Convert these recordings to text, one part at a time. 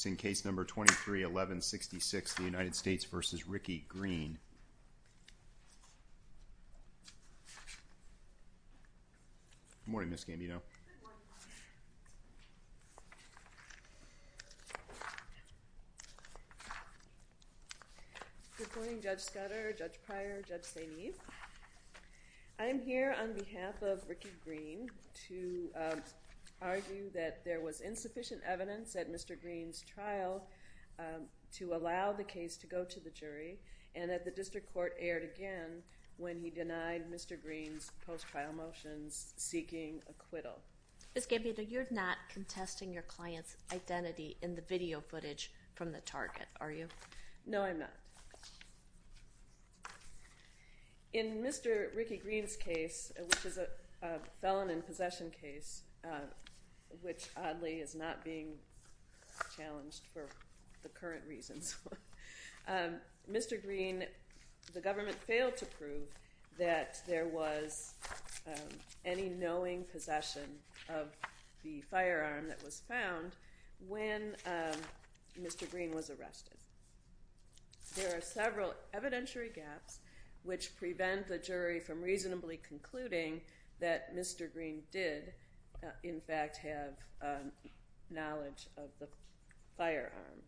Good morning Judge Scudder, Judge Pryor, Judge Saini, I am here on behalf of Ricky Green to argue that there was insufficient evidence at Mr. Green's trial to allow the case to go to the jury and that the district court erred again when he denied Mr. Green's post-trial motions seeking acquittal. Ms. Gambino, you're not contesting your client's identity in the video footage from the target, are you? No, I'm not. In Mr. Ricky Green's case, which is a felon in possession case, which oddly is not being challenged for the current reasons, Mr. Green, the government failed to prove that there was any knowing possession of the firearm that was found when Mr. Green was arrested. There are several evidentiary gaps which prevent the jury from reasonably concluding that Mr. Green did in fact have knowledge of the firearm.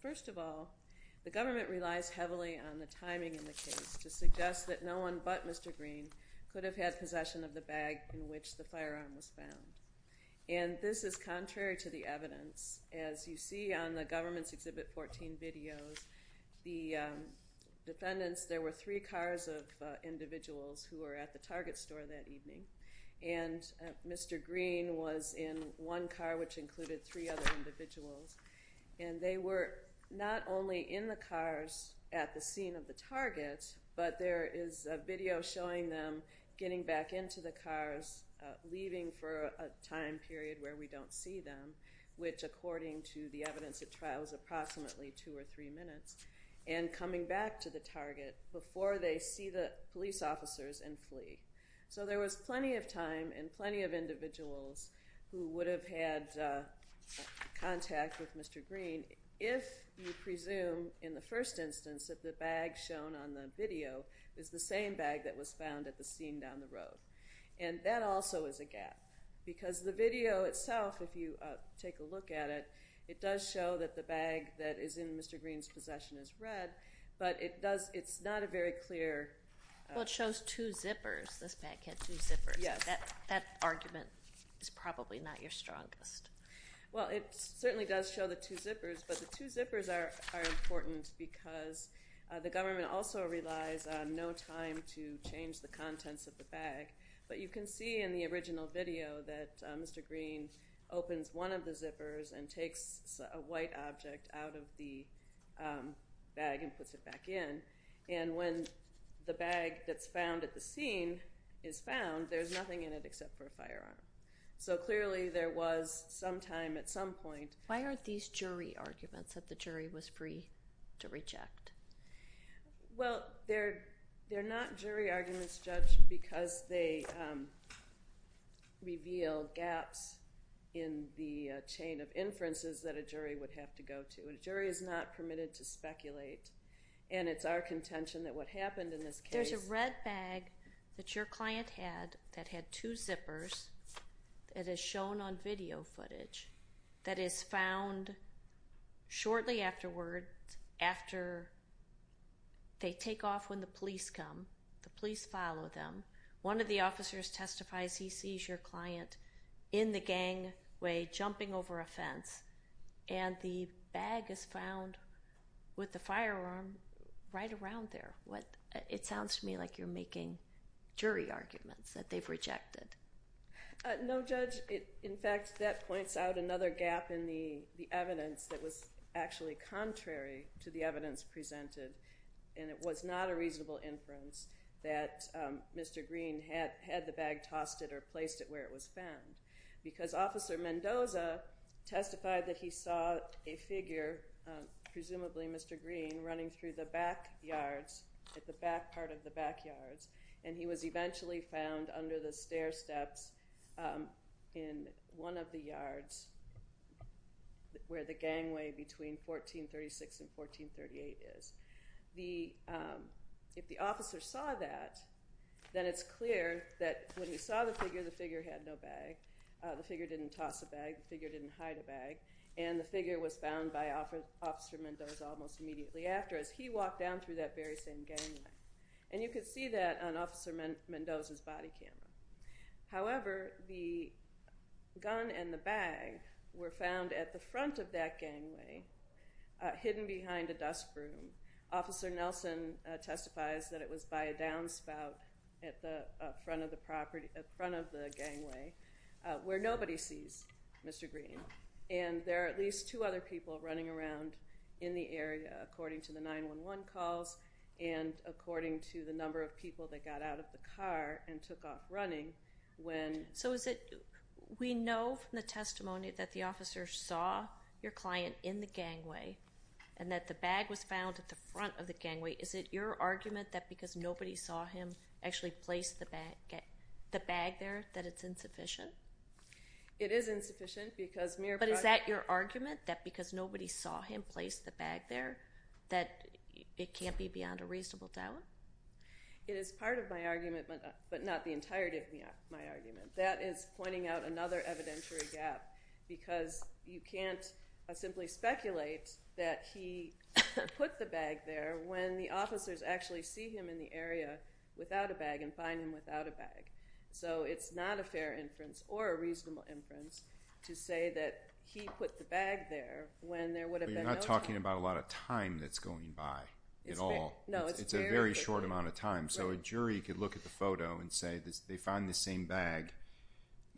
First of all, the government relies heavily on the timing in the case to suggest that no one but Mr. Green could have had possession of the bag in which the firearm was found. This is contrary to the evidence. As you see on the Government's Exhibit 14 videos, the defendants, there were three cars of individuals who were at the Target store that evening. Mr. Green was in one car, which included three other individuals. They were not only in the cars at the scene of the Target, but there is a video showing them getting back into the cars, leaving for a time period where we don't see them, which according to the evidence at trial is approximately two or three minutes, and coming back to the Target before they see the police officers and flee. There was plenty of time and plenty of individuals who would have had contact with Mr. Green if you presume in the first instance that the bag shown on the video is the same bag that was found at the scene down the road. That also is a gap, because the video itself, if you take a look at it, it does show that the bag that is in Mr. Green's possession is red, but it's not a very clear… Well, it shows two zippers. This bag had two zippers. Yes. That argument is probably not your strongest. Well, it certainly does show the two zippers, but the two zippers are important because the government also relies on no time to change the contents of the bag, but you can see in the original video that Mr. Green opens one of the zippers and takes a white object out of the bag and puts it back in, and when the bag that's found at the scene is found, there's nothing in it except for a firearm. So clearly there was some time at some point… Well, they're not jury arguments, Judge, because they reveal gaps in the chain of inferences that a jury would have to go to. A jury is not permitted to speculate, and it's our contention that what happened in this case… There's a red bag that your client had that had two zippers that is shown on video footage that is found shortly afterward after they take off when the police come. The police follow them. One of the officers testifies he sees your client in the gangway jumping over a fence, and the bag is found with the firearm right around there. It sounds to me like you're making jury arguments that they've rejected. No, Judge. In fact, that points out another gap in the evidence that was actually contrary to the evidence presented, and it was not a reasonable inference that Mr. Green had the bag tossed at or placed at where it was found, because Officer Mendoza testified that he saw a figure, presumably Mr. Green, running through the backyards, at the back part of the backyards, and he was eventually found under the stair steps in one of the yards where the gangway between 1436 and 1438 is. If the officer saw that, then it's clear that when he saw the figure, the figure had no bag. The figure didn't toss a bag. The figure didn't hide a bag, and the figure was found by Officer Mendoza almost immediately after as he walked down through that very same gangway. And you could see that on Officer Mendoza's body camera. However, the gun and the bag were found at the front of that gangway, hidden behind a dust broom. Officer Nelson testifies that it was by a downspout at the front of the gangway where nobody sees Mr. Green, and there are at least two other people running around in the area according to the 911 calls and according to the number of people that got out of the car and took off running when... So is it...we know from the testimony that the officer saw your client in the gangway and that the bag was found at the front of the gangway. Is it your argument that because nobody saw him actually place the bag there that it's insufficient? It is insufficient because... But is that your argument that because nobody saw him place the bag there that it can't be beyond a reasonable doubt? It is part of my argument, but not the entirety of my argument. That is pointing out another evidentiary gap because you can't simply speculate that he put the bag there when the officers actually see him in the area without a bag and find him without a bag. So it's not a fair inference or a reasonable inference to say that he put the bag there when there would have been no time. But you're not talking about a lot of time that's going by at all. It's a very short amount of time. So a jury could look at the photo and say they found the same bag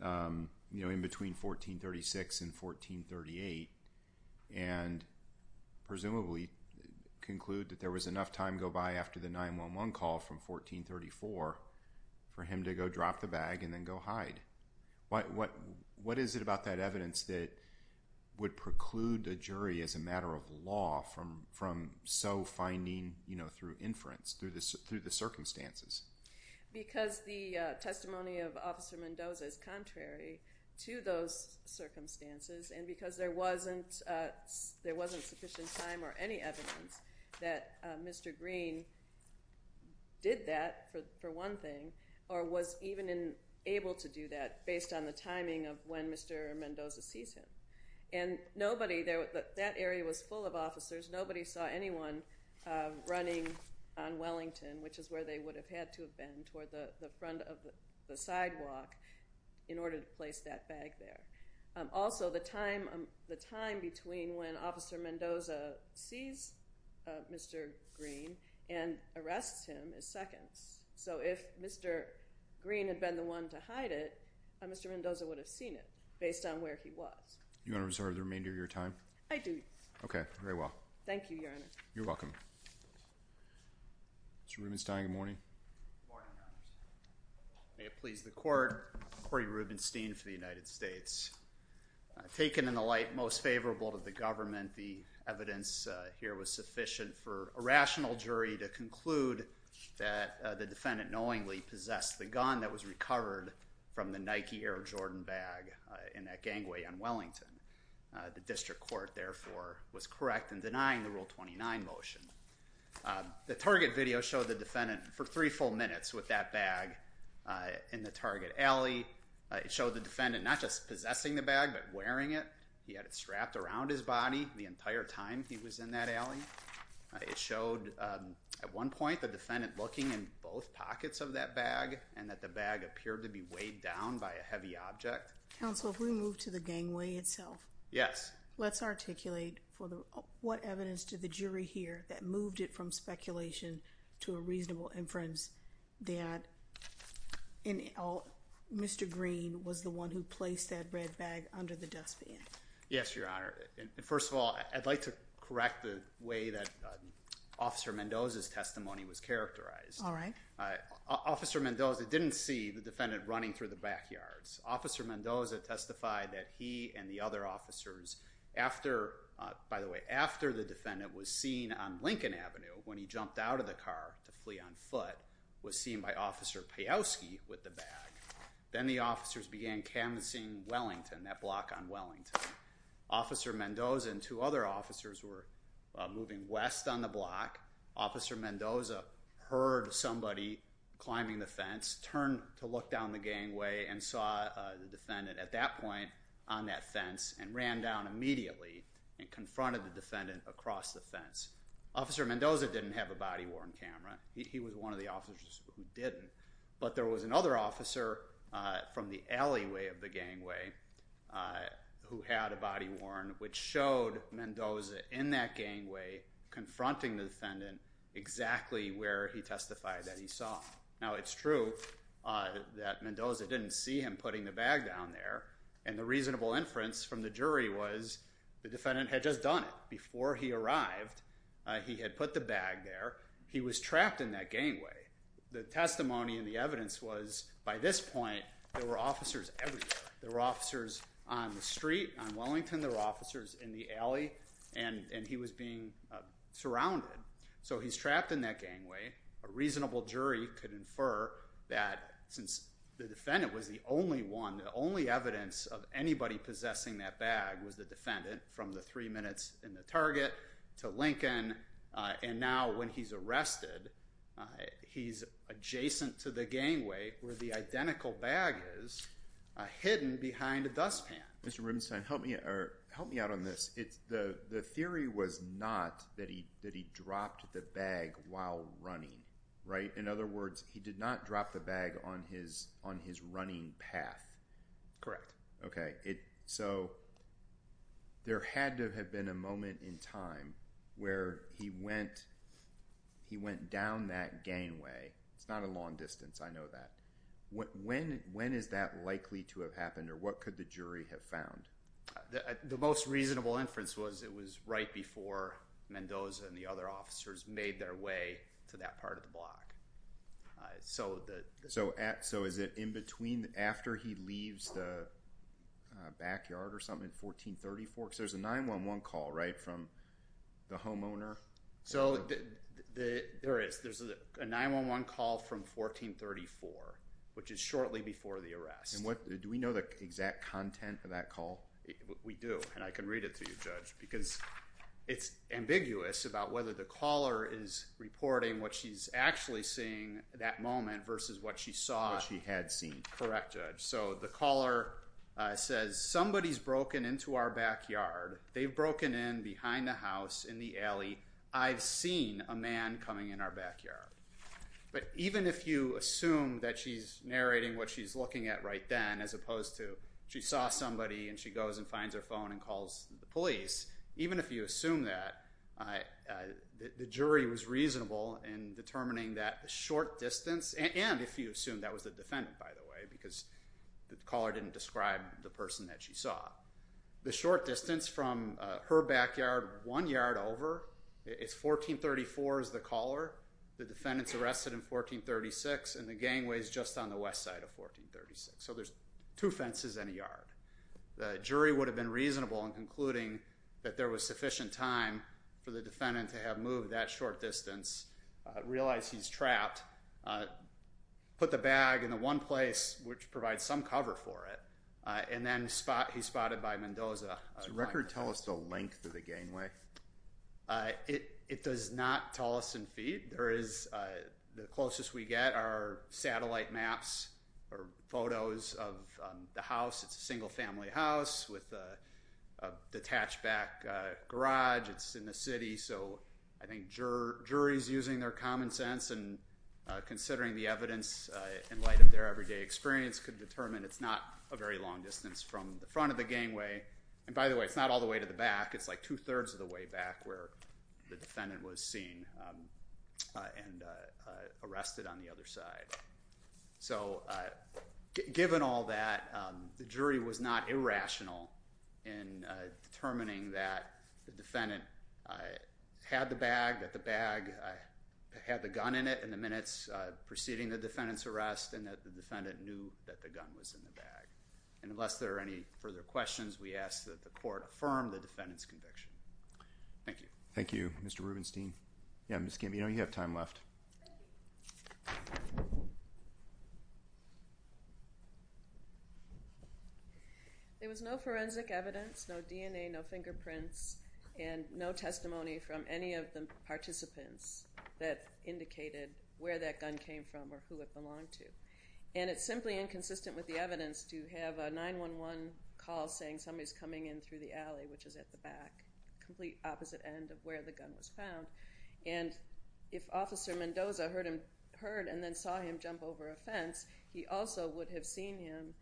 in between 1436 and 1438 and presumably conclude that there was enough time go by after the 911 call from 1434 for him to go drop the bag and then go hide. What is it about that evidence that would preclude a jury as a matter of law from so finding through inference, through the circumstances? Because the testimony of Officer Mendoza is contrary to those circumstances and because there wasn't sufficient time or any evidence that Mr. Green did that for one thing or was even able to do that based on the timing of when Mr. Mendoza sees him. And that area was full of officers. Nobody saw anyone running on Wellington, which is where they would have had to have been, toward the front of the sidewalk in order to place that bag there. Also, the time between when Officer Mendoza sees Mr. Green and arrests him is seconds. So if Mr. Green had been the one to hide it, Mr. Mendoza would have seen it based on where he was. Do you want to reserve the remainder of your time? I do. Okay, very well. Thank you, Your Honor. You're welcome. Mr. Rubenstein, good morning. Good morning, Your Honor. May it please the Court, Corey Rubenstein for the United States. Taken in the light most favorable to the government, the evidence here was sufficient for a rational jury to conclude that the defendant knowingly possessed the gun that was recovered from the Nike Air Jordan bag in that gangway on Wellington. The district court, therefore, was correct in denying the Rule 29 motion. The target video showed the defendant for three full minutes with that bag in the target alley. It showed the defendant not just possessing the bag but wearing it. He had it strapped around his body the entire time he was in that alley. It showed at one point the defendant looking in both pockets of that bag and that the bag appeared to be weighed down by a heavy object. Counsel, if we move to the gangway itself. Yes. Let's articulate what evidence did the jury hear that moved it from speculation to a reasonable inference that Mr. Green was the one who placed that red bag under the dustbin? Yes, Your Honor. First of all, I'd like to correct the way that Officer Mendoza's testimony was characterized. All right. Officer Mendoza didn't see the defendant running through the backyards. Officer Mendoza testified that he and the other officers after, by the way, after the defendant was seen on Lincoln Avenue when he jumped out of the car to flee on foot, was seen by Officer Pajowski with the bag. Then the officers began canvassing Wellington, that block on Wellington. Officer Mendoza and two other officers were moving west on the block. Officer Mendoza heard somebody climbing the fence, turned to look down the gangway and saw the defendant at that point on that fence and ran down immediately and confronted the defendant across the fence. Officer Mendoza didn't have a body-worn camera. He was one of the officers who didn't. But there was another officer from the alleyway of the gangway who had a body-worn, which showed Mendoza in that gangway confronting the defendant exactly where he testified that he saw. Now, it's true that Mendoza didn't see him putting the bag down there, and the reasonable inference from the jury was the defendant had just done it. Before he arrived, he had put the bag there. He was trapped in that gangway. The testimony and the evidence was by this point there were officers everywhere. There were officers on the street, on Wellington. There were officers in the alley, and he was being surrounded. So he's trapped in that gangway. A reasonable jury could infer that since the defendant was the only one, the only evidence of anybody possessing that bag was the defendant from the three minutes in the Target to Lincoln, and now when he's arrested, he's adjacent to the gangway where the identical bag is hidden behind a dustpan. Mr. Rubenstein, help me out on this. The theory was not that he dropped the bag while running, right? In other words, he did not drop the bag on his running path. Correct. Okay. So there had to have been a moment in time where he went down that gangway. It's not a long distance. I know that. When is that likely to have happened, or what could the jury have found? The most reasonable inference was it was right before Mendoza and the other officers made their way to that part of the block. So is it in between after he leaves the backyard or something in 1434? Because there's a 911 call, right, from the homeowner? There is. There's a 911 call from 1434, which is shortly before the arrest. Do we know the exact content of that call? We do, and I can read it to you, Judge, because it's ambiguous about whether the caller is reporting what she's actually seeing at that moment versus what she saw. What she had seen. Correct, Judge. So the caller says, somebody's broken into our backyard. They've broken in behind the house in the alley. I've seen a man coming in our backyard. But even if you assume that she's narrating what she's looking at right then as opposed to she saw somebody and she goes and finds her phone and calls the police, even if you assume that, the jury was reasonable in determining that the short distance, and if you assume that was the defendant, by the way, because the caller didn't describe the person that she saw, the short distance from her backyard one yard over is 1434 is the caller. The defendant's arrested in 1436, and the gangway is just on the west side of 1436. So there's two fences and a yard. The jury would have been reasonable in concluding that there was sufficient time for the defendant to have moved that short distance, realized he's trapped, put the bag in the one place which provides some cover for it, and then he's spotted by Mendoza. Does the record tell us the length of the gangway? It does not tell us in feet. The closest we get are satellite maps or photos of the house. It's a single family house with a detached back garage. It's in the city. So I think juries using their common sense and considering the evidence in light of their everyday experience could determine it's not a very long distance from the front of the gangway. And by the way, it's not all the way to the back. It's like two-thirds of the way back where the defendant was seen and arrested on the other side. So given all that, the jury was not irrational in determining that the defendant had the bag, that the bag had the gun in it in the minutes preceding the defendant's arrest, and that the defendant knew that the gun was in the bag. And unless there are any further questions, we ask that the court affirm the defendant's conviction. Thank you. Thank you, Mr. Rubenstein. Yeah, Ms. Gambino, you have time left. There was no forensic evidence, no DNA, no fingerprints, and no testimony from any of the participants that indicated where that gun came from or who it belonged to. And it's simply inconsistent with the evidence to have a 911 call saying somebody's coming in through the alley, which is at the back, complete opposite end of where the gun was found. And if Officer Mendoza heard and then saw him jump over a fence, he also would have seen him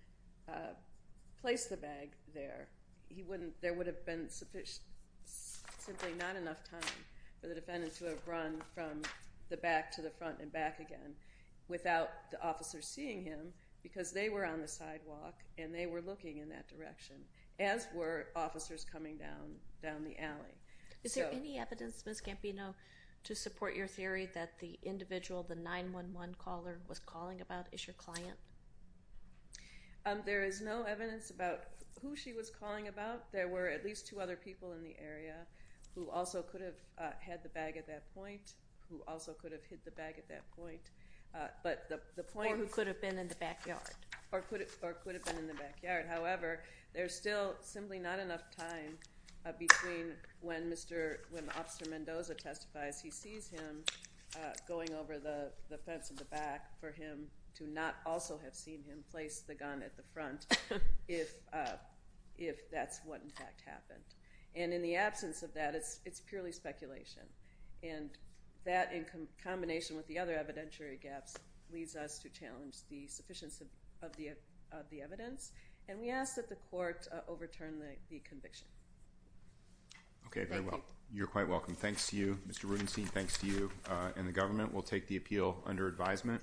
place the bag there. There would have been simply not enough time for the defendant to have run from the back to the front and back again without the officers seeing him, because they were on the sidewalk and they were looking in that direction, as were officers coming down the alley. Is there any evidence, Ms. Gambino, to support your theory that the individual the 911 caller was calling about is your client? There is no evidence about who she was calling about. There were at least two other people in the area who also could have had the bag at that point, who also could have hid the bag at that point. Or who could have been in the backyard. However, there's still simply not enough time between when Officer Mendoza testifies, he sees him going over the fence in the back, for him to not also have seen him place the gun at the front if that's what in fact happened. And in the absence of that, it's purely speculation. And that, in combination with the other evidentiary gaps, leads us to challenge the sufficiency of the evidence. And we ask that the court overturn the conviction. Okay, very well. Thank you. You're quite welcome. Thanks to you, Mr. Rudenstein, thanks to you and the government. We'll take the appeal under advisement.